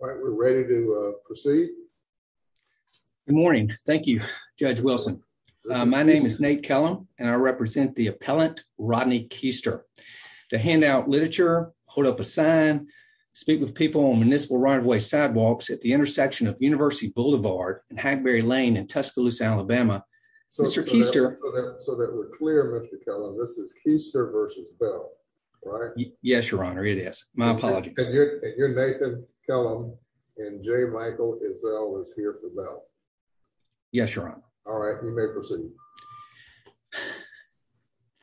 We're ready to proceed. Good morning. Thank you, Judge Wilson. My name is Nate Kellum and I represent the appellant Rodney Keister. To hand out literature, hold up a sign, speak with people on municipal right-of-way sidewalks at the intersection of University Boulevard and Hackberry Lane in Tuscaloosa, Alabama. So that we're clear, Mr. Kellum, this is Keister versus Bell, right? Yes, your honor, it is. My apologies. You're Nathan Kellum and J. Michael Ezell is here for Bell. Yes, your honor. All right, you may proceed.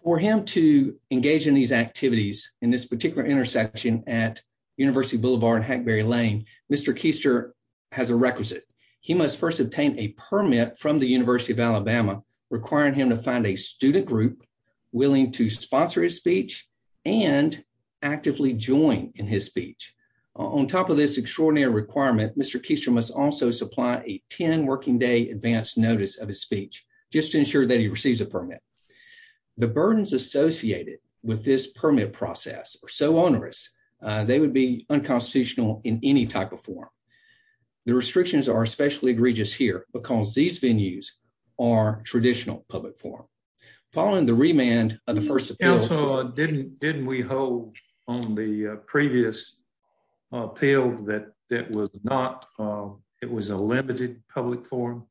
For him to engage in these activities in this particular intersection at University Boulevard and Hackberry Lane, Mr. Keister has a requisite. He must first obtain a permit from the University of Alabama requiring him to find a student group willing to sponsor his speech and actively join in his speech. On top of this extraordinary requirement, Mr. Keister must also supply a 10-working-day advance notice of his speech just to ensure that he receives a permit. The burdens associated with this permit process are so onerous, they would be unconstitutional in any type of forum. The restrictions are especially egregious here because these venues are traditional public forum. Following the remand of the first appeal, didn't we hold on the previous appeal that it was a limited public forum?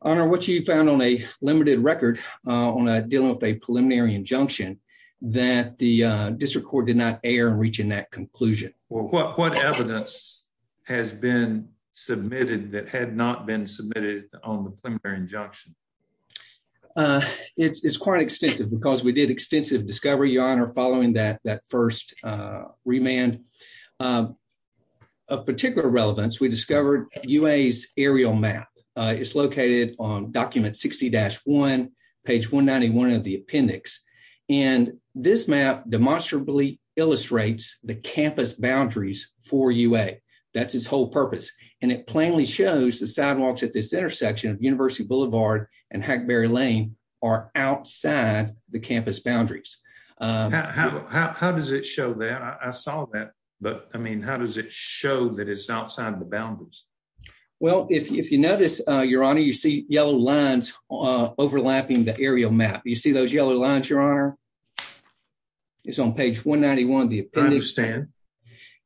Honor, what you found on a limited record on dealing with a preliminary injunction that the district court did not err in reaching that conclusion? Well, what evidence has been submitted that had not been submitted on the preliminary injunction? It's quite extensive because we did extensive discovery, your honor, following that first remand. Of particular relevance, we discovered UA's aerial map. It's located on document 60-1, page 191 of the appendix. This map demonstrably illustrates the campus boundaries for UA. That's its whole purpose. It plainly shows the sidewalks at this intersection of University Boulevard and Hackberry Lane are outside the campus boundaries. How does it show that? I saw that, but I mean, how does it show that it's outside the boundaries? Well, if you notice, your honor, you see yellow lines overlapping the aerial map. You see those yellow lines, your honor? It's on page 191 of the appendix. I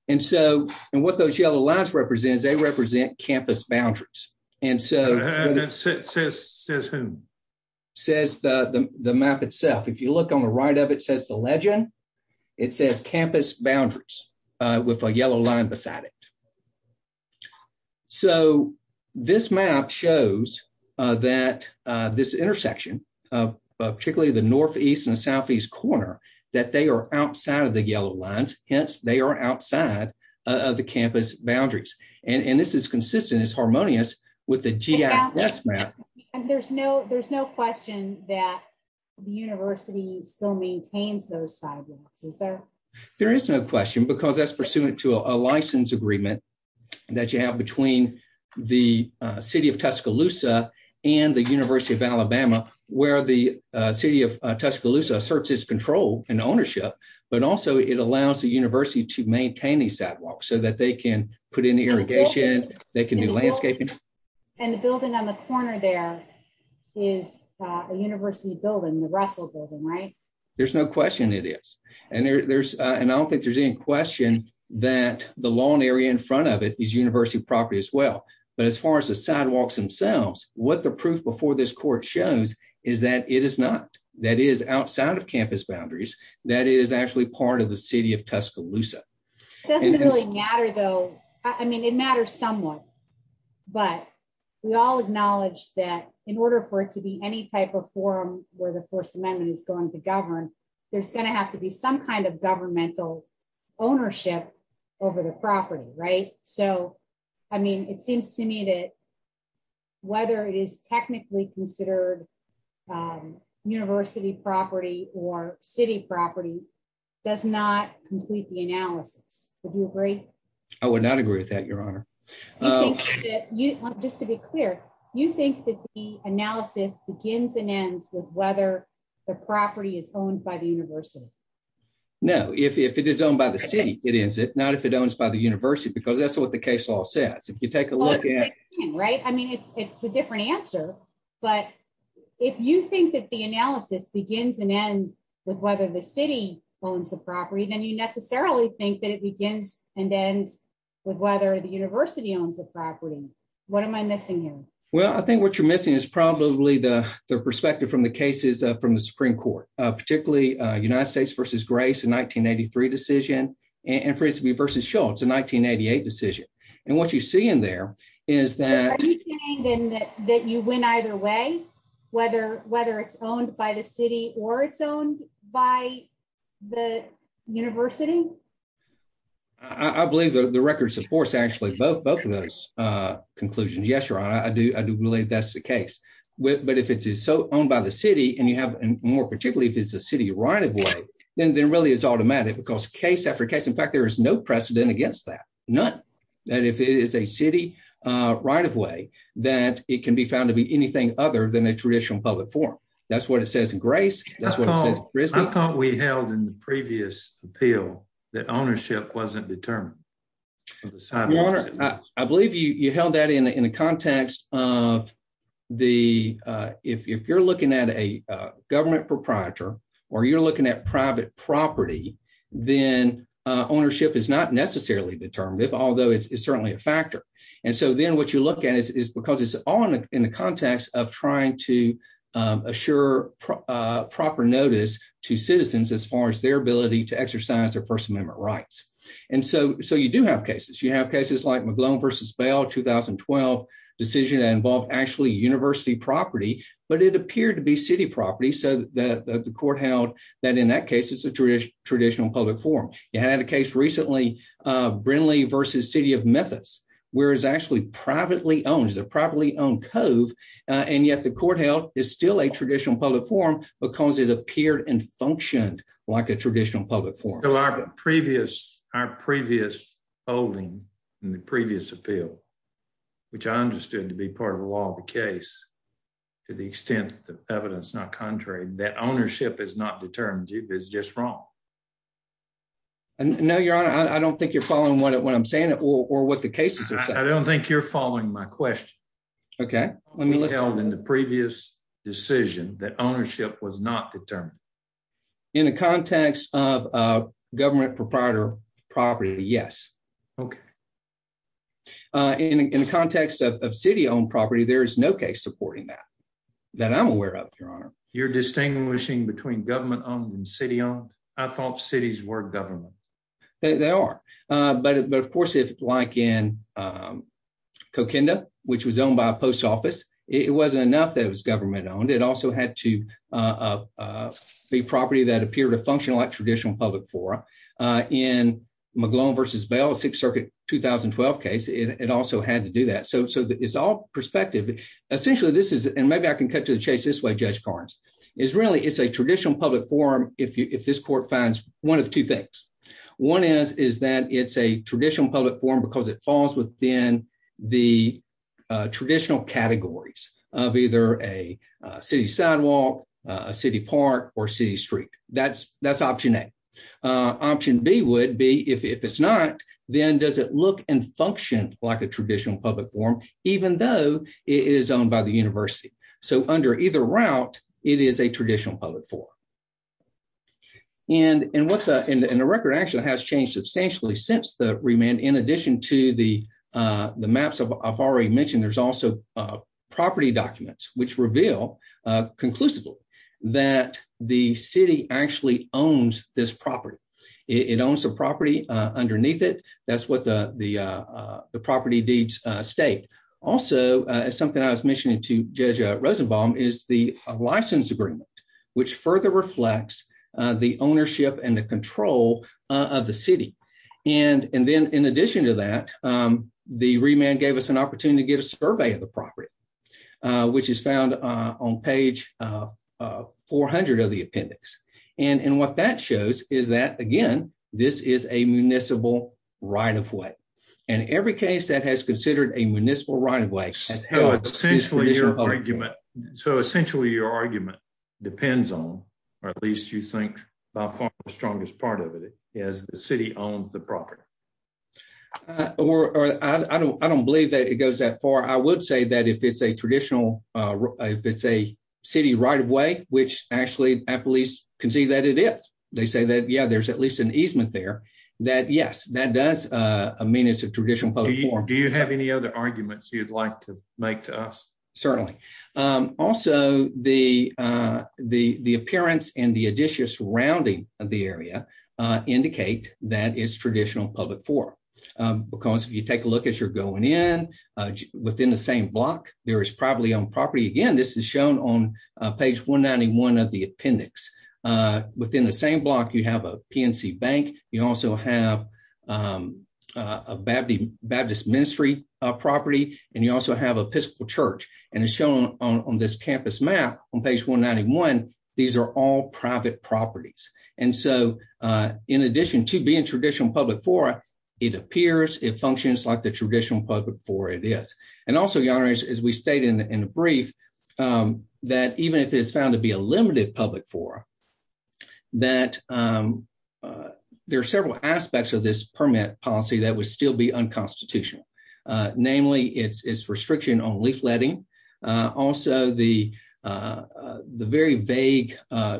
understand. And what those yellow lines represent is they represent campus boundaries. Says who? Says the map itself. If you look on the right of it, it says the legend. It says campus boundaries with a yellow line beside it. So this map shows that this intersection, particularly the northeast and southeast corner, that they are outside of the yellow lines. Hence, they are outside of the campus boundaries. And this is consistent, it's harmonious with the GIS map. And there's no question that the university still maintains those sidewalks, is there? There is no question, because that's pursuant to a license agreement that you have between the city of Tuscaloosa and the University of Alabama, where the city of Tuscaloosa asserts its control and ownership, but also it allows the university to maintain these sidewalks so that they can put in irrigation, they can do landscaping. And the building on the corner there is a university building, the Russell Building, right? There's no question it is. And I don't think there's any question that the lawn area in front of it is university property as well. But as far as the sidewalks themselves, what the proof before this court shows is that it is not. That is outside of campus boundaries. That is actually part of the city of Tuscaloosa. It doesn't really matter, though. I mean, it matters somewhat. But we all acknowledge that in order for it to be any type of forum where the First Amendment is going to govern, there's going to have to be some kind of governmental ownership over the property, right? So, I mean, it seems to me that whether it is technically considered university property or city property does not complete the analysis. Would you agree? I would not agree with that, Your Honor. Just to be clear, you think that the analysis begins and ends with whether the property is owned by the university? No. If it is owned by the city, it is. Not if it's owned by the university, because that's what the case law says. If you take a look at- Well, it's the same thing, right? I mean, it's a different answer. But if you think that the analysis begins and ends with whether the city owns the property, then you necessarily think it begins and ends with whether the university owns the property. What am I missing here? Well, I think what you're missing is probably the perspective from the cases from the Supreme Court, particularly United States v. Grace, a 1983 decision, and Frisbee v. Schultz, a 1988 decision. And what you see in there is that- Are you saying then that you win either way, whether it's owned by the city or it's owned by the university? I believe the record supports actually both of those conclusions. Yes, Your Honor, I do believe that's the case. But if it is owned by the city, and more particularly if it's a city right-of-way, then it really is automatic. Because case after case, in fact, there is no precedent against that. None. And if it is a city right-of-way, then it can be found to be anything other than a I thought we held in the previous appeal that ownership wasn't determined. I believe you held that in the context of if you're looking at a government proprietor, or you're looking at private property, then ownership is not necessarily determined, although it's certainly a factor. And so then what you're looking at is because it's all in the context of trying to assure proper notice to citizens as far as their ability to exercise their First Amendment rights. And so you do have cases. You have cases like McGlone v. Bell, 2012 decision that involved actually university property, but it appeared to be city property. So the court held that in that case, it's a traditional public forum. You had a case recently, Brindley v. City of Memphis, where it's actually privately owned. It's a privately owned cove. And yet the court held it's still a traditional public forum because it appeared and functioned like a traditional public forum. So our previous holding in the previous appeal, which I understood to be part of the law of the case, to the extent that the evidence is not what I'm saying or what the case is, I don't think you're following my question. Okay, let me tell them the previous decision that ownership was not determined in the context of government proprietor property. Yes. Okay. In the context of city owned property, there is no case supporting that, that I'm aware of, Your Honor, you're distinguishing between government owned and I thought cities were government. They are. But of course, if like in Coquinda, which was owned by a post office, it wasn't enough that it was government owned. It also had to be property that appeared to function like traditional public forum. In McGloin v. Bell, Sixth Circuit, 2012 case, it also had to do that. So it's all perspective. Essentially, this is and maybe I can cut to the chase this way, Judge Carnes, is really it's a traditional public forum, if this court finds one of two things. One is, is that it's a traditional public forum, because it falls within the traditional categories of either a city sidewalk, a city park or city street. That's, that's option A. Option B would be if it's not, then does it look and function like a traditional public forum, even though it is owned by the university. So under either route, it is a traditional public forum. And what the record actually has changed substantially since the remand, in addition to the maps I've already mentioned, there's also property documents which reveal conclusively that the city actually owns this property. It owns the property underneath it. That's what the something I was mentioning to Judge Rosenbaum is the license agreement, which further reflects the ownership and the control of the city. And then in addition to that, the remand gave us an opportunity to get a survey of the property, which is found on page 400 of the appendix. And what that shows is that again, this is a municipal right of way. And every case that has considered a municipal right of way. So essentially your argument depends on, or at least you think by far the strongest part of it is the city owns the property. Or I don't believe that it goes that far. I would say that if it's a traditional, if it's a city right of way, which actually at least can see that it is, they say that yeah, at least an easement there, that yes, that does mean it's a traditional public forum. Do you have any other arguments you'd like to make to us? Certainly. Also, the appearance and the addition surrounding the area indicate that it's a traditional public forum. Because if you take a look as you're going in, within the same block, there is probably on property. Again, this is shown on page 191 of the appendix. Within the PNC Bank, you also have a Baptist ministry property, and you also have Episcopal Church. And it's shown on this campus map on page 191. These are all private properties. And so, in addition to being traditional public forum, it appears it functions like the traditional public forum it is. And also as we stated in the brief, that even if it's found to be a limited public forum, that there are several aspects of this permit policy that would still be unconstitutional. Namely, it's restriction on leafletting. Also, the very vague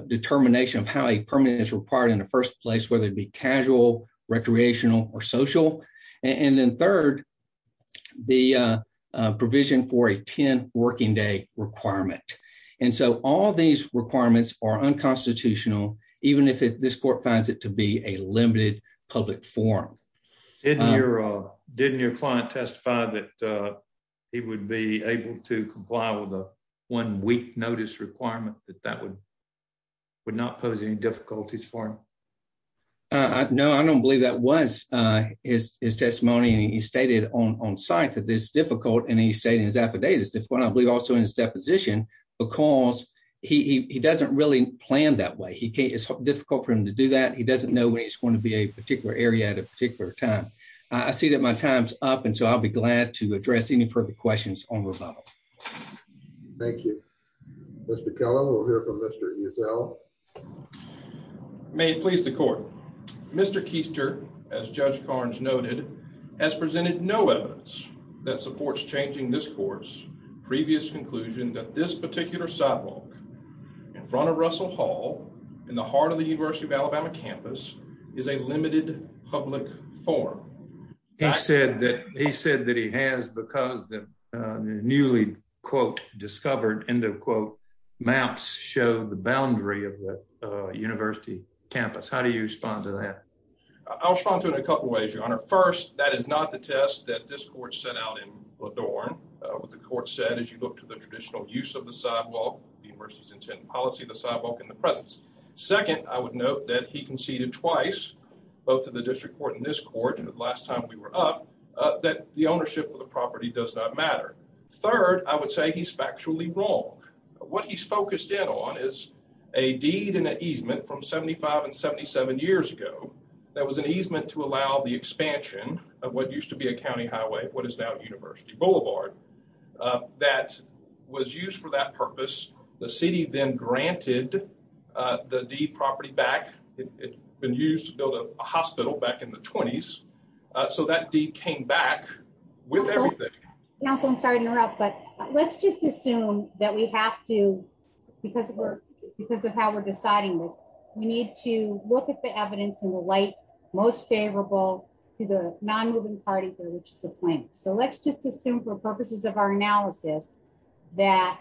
determination of how a permit is required in the first place, whether it be casual, recreational, or social. And then third, the provision for a 10 working day requirement. And so, all these requirements are unconstitutional, even if this court finds it to be a limited public forum. Didn't your client testify that he would be able to comply with a one-week notice requirement that that would not pose any difficulties for him? No, I don't believe that was his testimony. And he stated on site that it's difficult, and he stated his affidavit is difficult. I believe also in his deposition, because he doesn't really plan that way. It's difficult for him to do that. He doesn't know when he's going to be a particular area at a particular time. I see that my time's up, and so I'll be glad to address any further questions on rebuttal. Thank you. Mr. Kellogg, we'll hear from Mr. Esau. May it please the court. Mr. Keister, as Judge Carnes noted, has presented no evidence that supports changing this court's previous conclusion that this particular sidewalk in front of Russell Hall in the heart of the University of Alabama campus is a limited public forum. He said that he has because the newly, quote, discovered, end of quote, maps show the boundary of the university campus. How do you respond to that? I'll respond to it in a couple ways, Your Honor. First, that is not the test that this court set out in LaDorne. What the court said, as you look to the traditional use of the sidewalk, the university's intent and policy, the sidewalk in the presence. Second, I would note that he conceded twice, both to the district court and this court, the last time we were up, that the ownership of the property does not matter. Third, I would say he's factually wrong. What he's focused in on is a deed and an easement from 75 and 77 years ago that was an easement to allow the expansion of what used to be a county highway, what is now University Boulevard, that was used for that purpose. The city then granted the deed property back. It had been used to build a hospital back in the 20s. So that deed came back with everything. Counsel, I'm sorry to have to, because of how we're deciding this, we need to look at the evidence in the light most favorable to the non-moving party for which it's a plaintiff. So let's just assume for purposes of our analysis that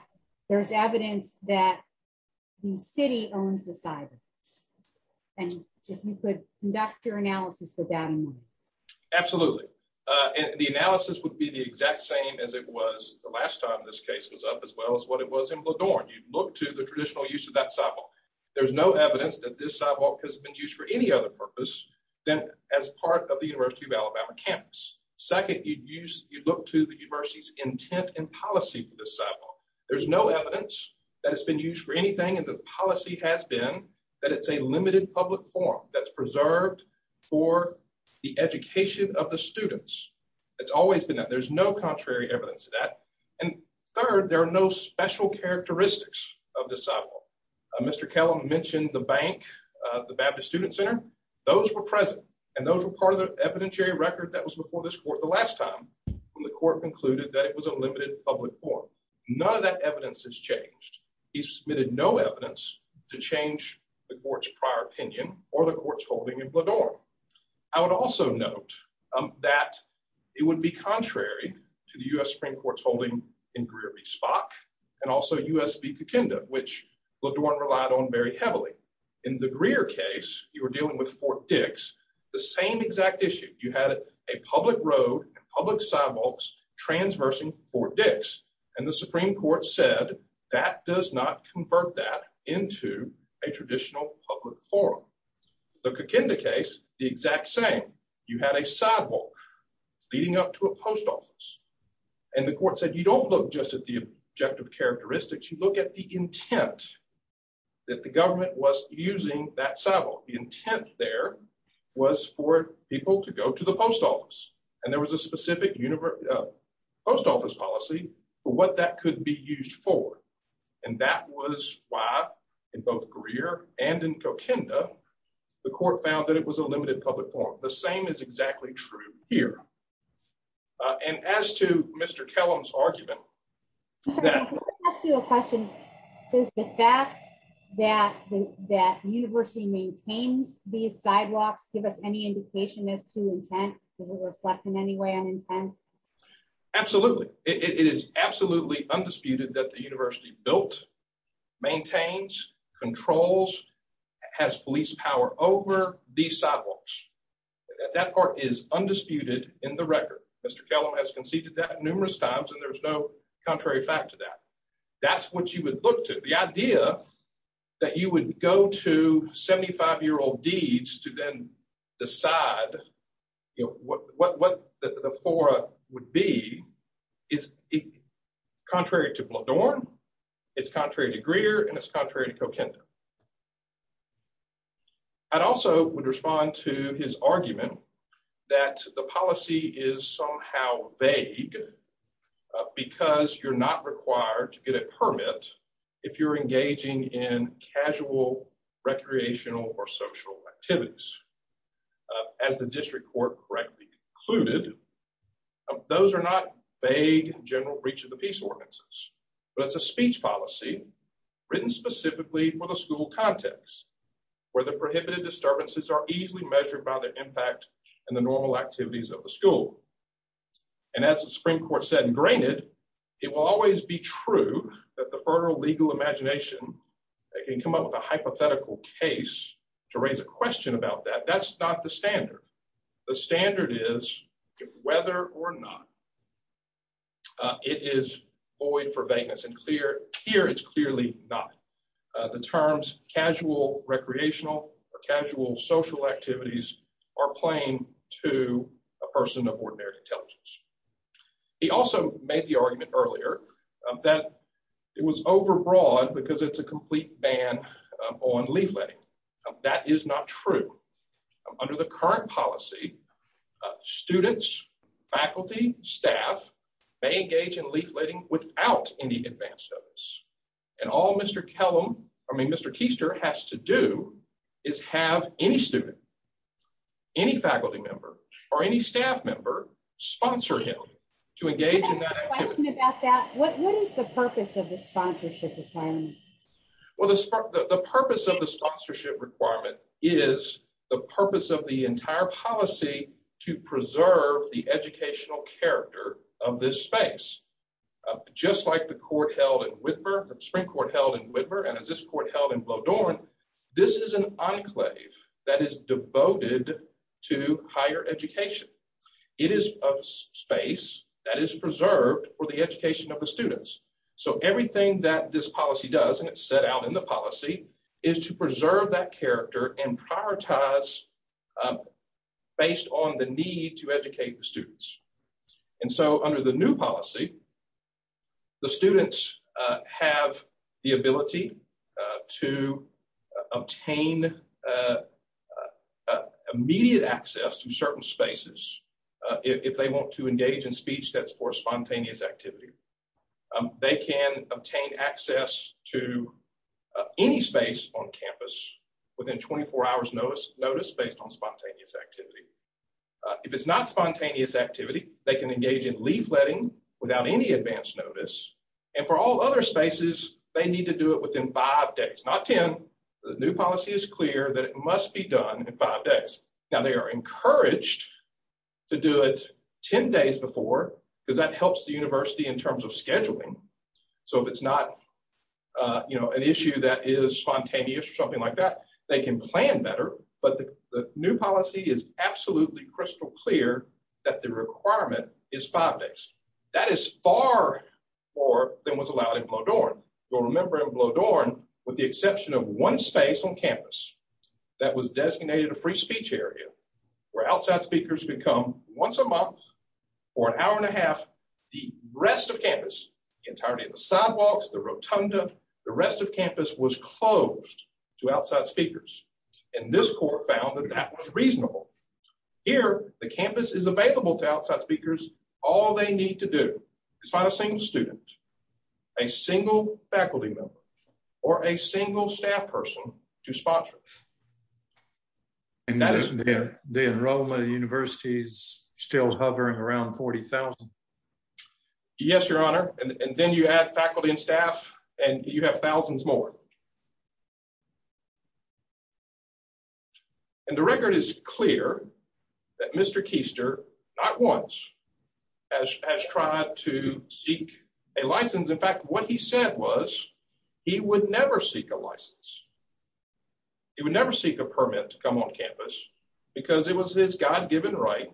there's evidence that the city owns the sidewalks. And if you could conduct your analysis with that in mind. Absolutely. The analysis would be the exact same as it was the last time this case was up, as well as what it was in Bladorn. You'd look to the traditional use of that sidewalk. There's no evidence that this sidewalk has been used for any other purpose than as part of the University of Alabama campus. Second, you'd look to the university's intent and policy for this sidewalk. There's no evidence that it's been used for anything and the policy has been that it's a limited public forum that's preserved for the evidence of that. And third, there are no special characteristics of the sidewalk. Mr. Kellum mentioned the bank, the Baptist Student Center. Those were present and those were part of the evidentiary record that was before this court the last time when the court concluded that it was a limited public forum. None of that evidence has changed. He's submitted no evidence to change the court's prior opinion or the court's holding in Bladorn. I would also note that it would be contrary to the U.S. Supreme Court's holding in Greer v. Spock and also U.S. v. Kokinda, which Bladorn relied on very heavily. In the Greer case, you were dealing with Fort Dix, the same exact issue. You had a public road and public sidewalks transversing Fort Dix and the Supreme Court said that does not convert that into a traditional public forum. The Kokinda case, the exact same. You had a sidewalk leading up to a post office and the court said you don't look just at the objective characteristics, you look at the intent that the government was using that sidewalk. The intent there was for people to go to the post office and there was a specific post office policy for what that could be used for and that was why in both Greer and in Kokinda, the court found that it was a limited public forum. The same is exactly true here and as to Mr. Kellum's argument. Let me ask you a question. Is the fact that the university maintains these sidewalks give us any indication as to intent? Does it reflect in any way on intent? Absolutely. It is absolutely undisputed that the university built, maintains, controls, has police power over these sidewalks. That part is undisputed in the record. Mr. Kellum has conceded that numerous times and there's no contrary fact to that. That's what you would look to. The idea that you would go to 75-year-old to then decide what the fora would be is contrary to Bladorn, it's contrary to Greer, and it's contrary to Kokinda. I'd also would respond to his argument that the policy is somehow vague because you're not required to get a permit if you're engaging in casual recreational or social activities. As the district court correctly concluded, those are not vague and general breach of the peace ordinances, but it's a speech policy written specifically for the school context where the prohibited disturbances are easily measured by their impact and the normal activities of the school. And as the Supreme Court said ingrained, it will always be true that the federal legal imagination can come up with a hypothetical case to raise a question about that. That's not the standard. The standard is whether or not it is void for vagueness and here it's clearly not. The terms casual recreational or casual social activities are plain to a person of ordinary intelligence. He also made the argument earlier that it was overbroad because it's a complete ban on leafletting. That is not true. Under the current policy, students, faculty, staff may engage in leafletting without any advance notice and all Mr. Kellum, I mean, Mr. Keister has to do is have any student, any faculty member or any staff member sponsor him to engage in that activity. What is the purpose of the sponsorship requirement? Well, the purpose of the sponsorship requirement is the purpose of the entire policy to preserve the educational character of this space. Just like the court held in Whitmer, the Supreme Court held in Whitmer and as this court held in Bledorn, this is an enclave that is devoted to higher education. It is a space that is preserved for the education of the students. Everything that this policy does and it's set out in the policy is to preserve that character and prioritize based on the need to educate the students. Under the new policy, the students have the ability to obtain immediate access to certain spaces if they want to engage in speech that's for spontaneous activity. They can obtain access to any space on campus within 24 hours notice based on spontaneous activity. If it's not spontaneous activity, they can engage in leafletting without any advance notice and for all other spaces, they need to do it within five days, not 10. The new policy is clear that it must be done in five days. Now, they are encouraged to do it 10 days before because that helps the university in terms of scheduling. So if it's not, you know, an issue that is spontaneous or something like that, they can plan better, but the new policy is absolutely crystal clear that the requirement is five days. That is far more than was allowed in Bledorn. You'll remember in Bledorn, with the exception of one space on campus that was designated a free speech area where outside speakers become once a month for an hour and a half, the rest of campus, the entirety of the sidewalks, the rotunda, the rest of campus was closed to outside speakers and this court found that that was reasonable. Here, the campus is available to outside speakers. All they need to do is find a single student, a single faculty member, or a single staff person to sponsor them. The enrollment of universities still hovering around 40,000? Yes, your honor, and then you add faculty and staff and you have thousands more. And the record is clear that Mr. Keister, not once, has tried to seek a license. In fact, what he said was he would never seek a license. He would never seek a permit to come on campus because it was his God-given right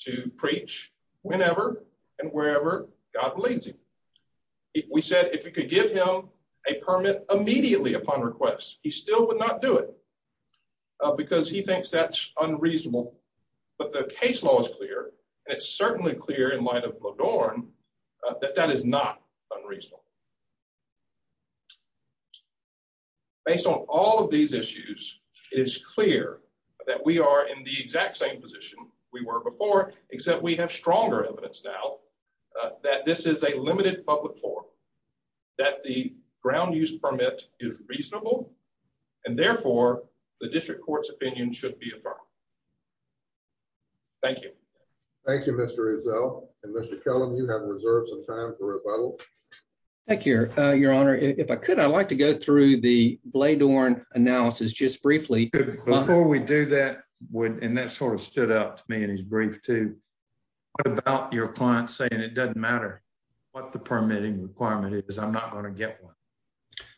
to preach whenever and wherever God believes him. We said if you could give him a permit immediately upon request, he still would not do it because he thinks that's unreasonable, but the case law is clear and it's certainly clear in light of Bledorn that that is not unreasonable. Based on all of these issues, it is clear that we are in the exact same position we were before, except we have stronger evidence now that this is a limited public forum, that the ground use permit is reasonable, and therefore the district court's opinion should be affirmed. Thank you. Thank you, Mr. Rizzo. And Mr. Kellum, you have reserved some time for rebuttal. Thank you, your honor. If I could, I'd like to go through the Bledorn analysis just briefly. Before we do that, and that sort of stood out to me in his brief too, what about your client saying it doesn't matter what the permitting requirement is, I'm not going to get one?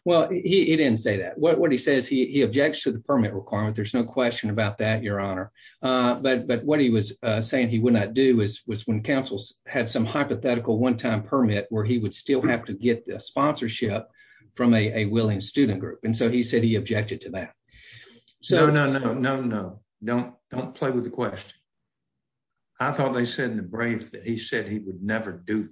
Well, he didn't say that. What he says, he objects to the permit requirement. There's no question about that, your honor. But what he was saying he would not do was when councils had some hypothetical one-time permit where he would still have to get the sponsorship from a willing student group. And so he said he objected to that. No, no, no, no, no, no. Don't play with the question. I thought they said in the brief that he said he would never do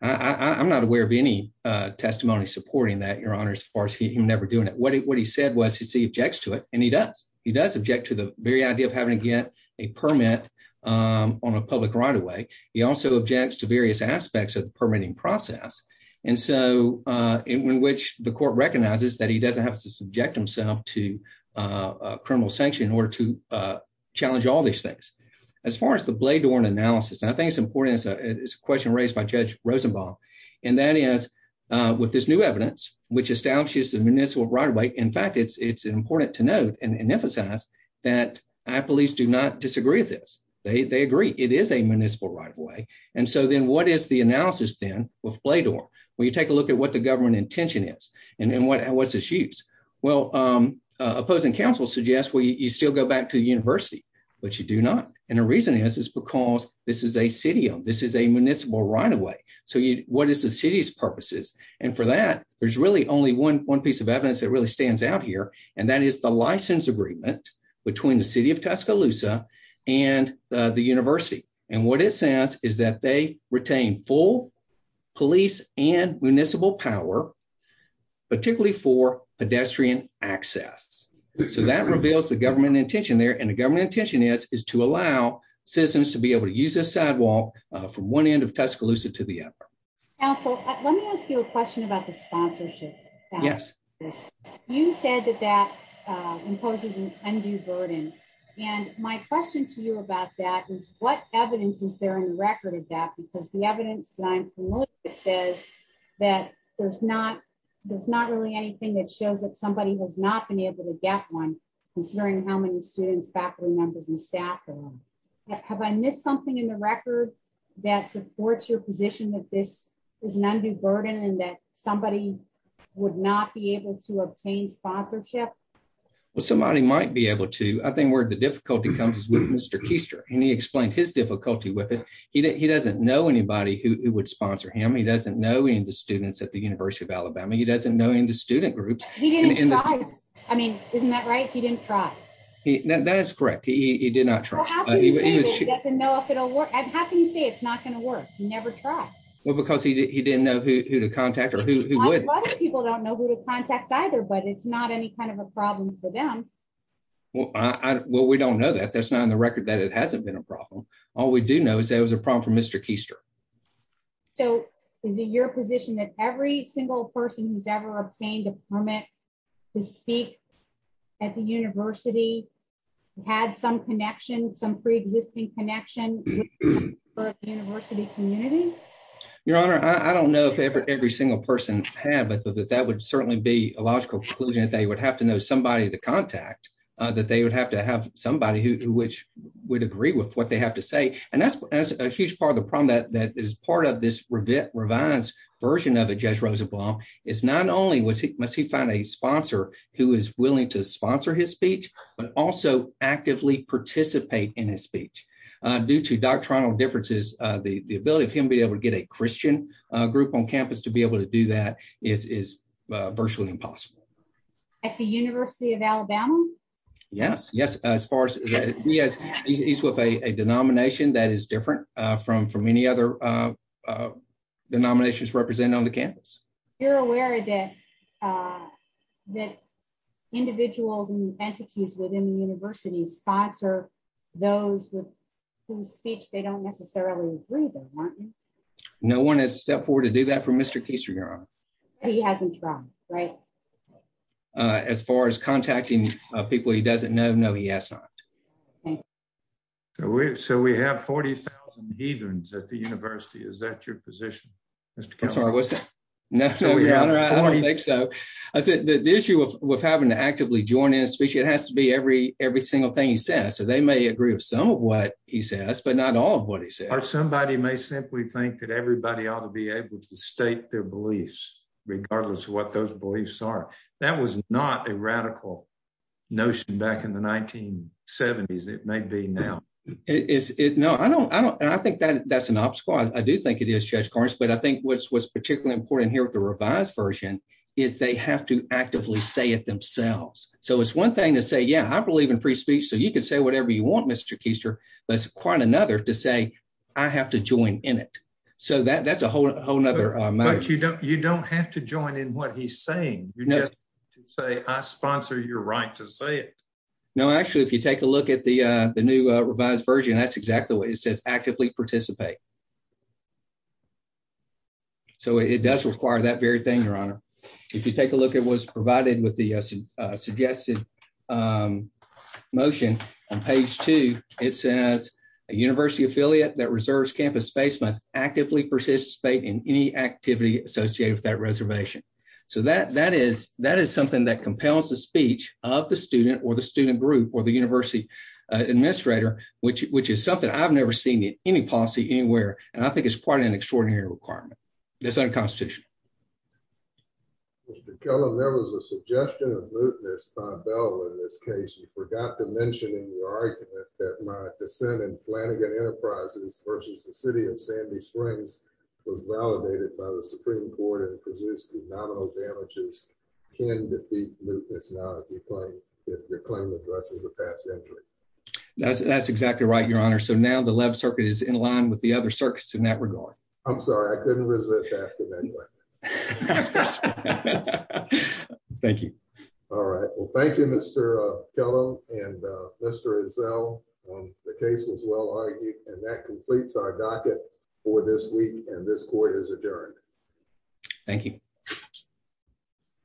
that. I'm not aware of any testimony supporting that, your honor, as far as him never doing it. What he said was he objects to it, and he does. He does object to the very idea of having to get a permit on a public right-of-way. He also objects to various aspects of the permitting process, and so in which the court recognizes that he doesn't have to subject himself to criminal sanction in order to challenge all these things. As far as the Bledorn analysis, I think it's important, it's a question raised by Judge in fact, it's important to note and emphasize that police do not disagree with this. They agree it is a municipal right-of-way. And so then what is the analysis then with Bledorn? When you take a look at what the government intention is and what's its use, well, opposing counsel suggests, well, you still go back to the university, but you do not. And the reason is, is because this is a city, this is a municipal right-of-way. So what is the city's that really stands out here? And that is the license agreement between the city of Tuscaloosa and the university. And what it says is that they retain full police and municipal power, particularly for pedestrian access. So that reveals the government intention there. And the government intention is, is to allow citizens to be able to use this sidewalk from one end of Tuscaloosa to the other. Counsel, let me ask you a question about the sponsorship. You said that that imposes an undue burden. And my question to you about that is what evidence is there in the record of that? Because the evidence that I'm familiar with says that there's not really anything that shows that somebody has not been able to get one considering how many students, faculty members and staff are on. Have I missed something in the is an undue burden and that somebody would not be able to obtain sponsorship? Well, somebody might be able to, I think where the difficulty comes is with Mr. Keister, and he explained his difficulty with it. He doesn't know anybody who would sponsor him. He doesn't know any of the students at the University of Alabama. He doesn't know any of the student groups. He didn't try. I mean, isn't that right? He didn't try. That is correct. He did not try. Well, how can you say that he doesn't know if it'll work? How can you say it's not going to he didn't know who to contact or who would? A lot of people don't know who to contact either, but it's not any kind of a problem for them. Well, we don't know that. That's not in the record that it hasn't been a problem. All we do know is that it was a problem for Mr. Keister. So is it your position that every single person who's ever obtained a permit to speak at the university had some connection, some pre-existing connection for the university community? Your Honor, I don't know if every single person had, but that would certainly be a logical conclusion that they would have to know somebody to contact, that they would have to have somebody who would agree with what they have to say. And that's a huge part of the problem that is part of this revised version of it, Judge Rosenblum, is not only must he find a sponsor who is willing to sponsor his speech, but also actively participate in his speech. Due to doctrinal differences, the ability of him to get a Christian group on campus to be able to do that is virtually impossible. At the University of Alabama? Yes, yes. He's with a denomination that is different from any other denominations represented on the campus. You're aware that individuals and entities within the university sponsor those whose speech they don't necessarily agree with, aren't you? No one has stepped forward to do that for Mr. Keeser, Your Honor. He hasn't, right? As far as contacting people he doesn't know, no, he has not. So we have 40,000 heathens at the university. Is that your position, Mr. Keeser? I'm sorry, what's that? No, Your Honor, I don't think so. I said the issue of having to actively join in a speech, it has to be every single thing he says. So they may agree with some of what he says, but not all of what he says. Somebody may simply think that everybody ought to be able to state their beliefs, regardless of what those beliefs are. That was not a radical notion back in the 1970s. It may be now. No, I think that's an obstacle. I do think it is, Judge Carnes, but I think what's particularly important here with the revised version is they have to actively say it themselves. So it's one thing to say, yeah, I believe in free speech, so you can say whatever you want, Mr. Keeser. But it's quite another to say, I have to join in it. So that's a whole other matter. But you don't have to join in what he's saying. You just say, I sponsor your right to say it. No, actually, if you take a look at the new revised version, that's exactly what it says, actively participate. So it does require that very thing, Your Honor. If you take a look at what's provided with the suggested motion on page two, it says, a university affiliate that reserves campus space must actively participate in any activity associated with that reservation. So that is something that compels the speech of the student or the student group or the university administrator, which is something I've never seen in any policy anywhere. And I think it's quite an extraordinary requirement. It's unconstitutional. Mr. Kellam, there was a suggestion of lutenist by Bell in this case. You forgot to mention in your argument that my dissent in Flanagan Enterprises versus the city of Sandy Springs was validated by the Supreme Court and produced nominal damages can defeat lutenist now if your claim addresses a past injury. That's exactly right, Your Honor. So now the left circuit is in line with the other circuits I'm sorry, I couldn't resist asking that question. Thank you. All right. Well, thank you, Mr. Kellam and Mr. Ezell. The case was well-argued and that completes our docket for this week and this court is adjourned. Thank you.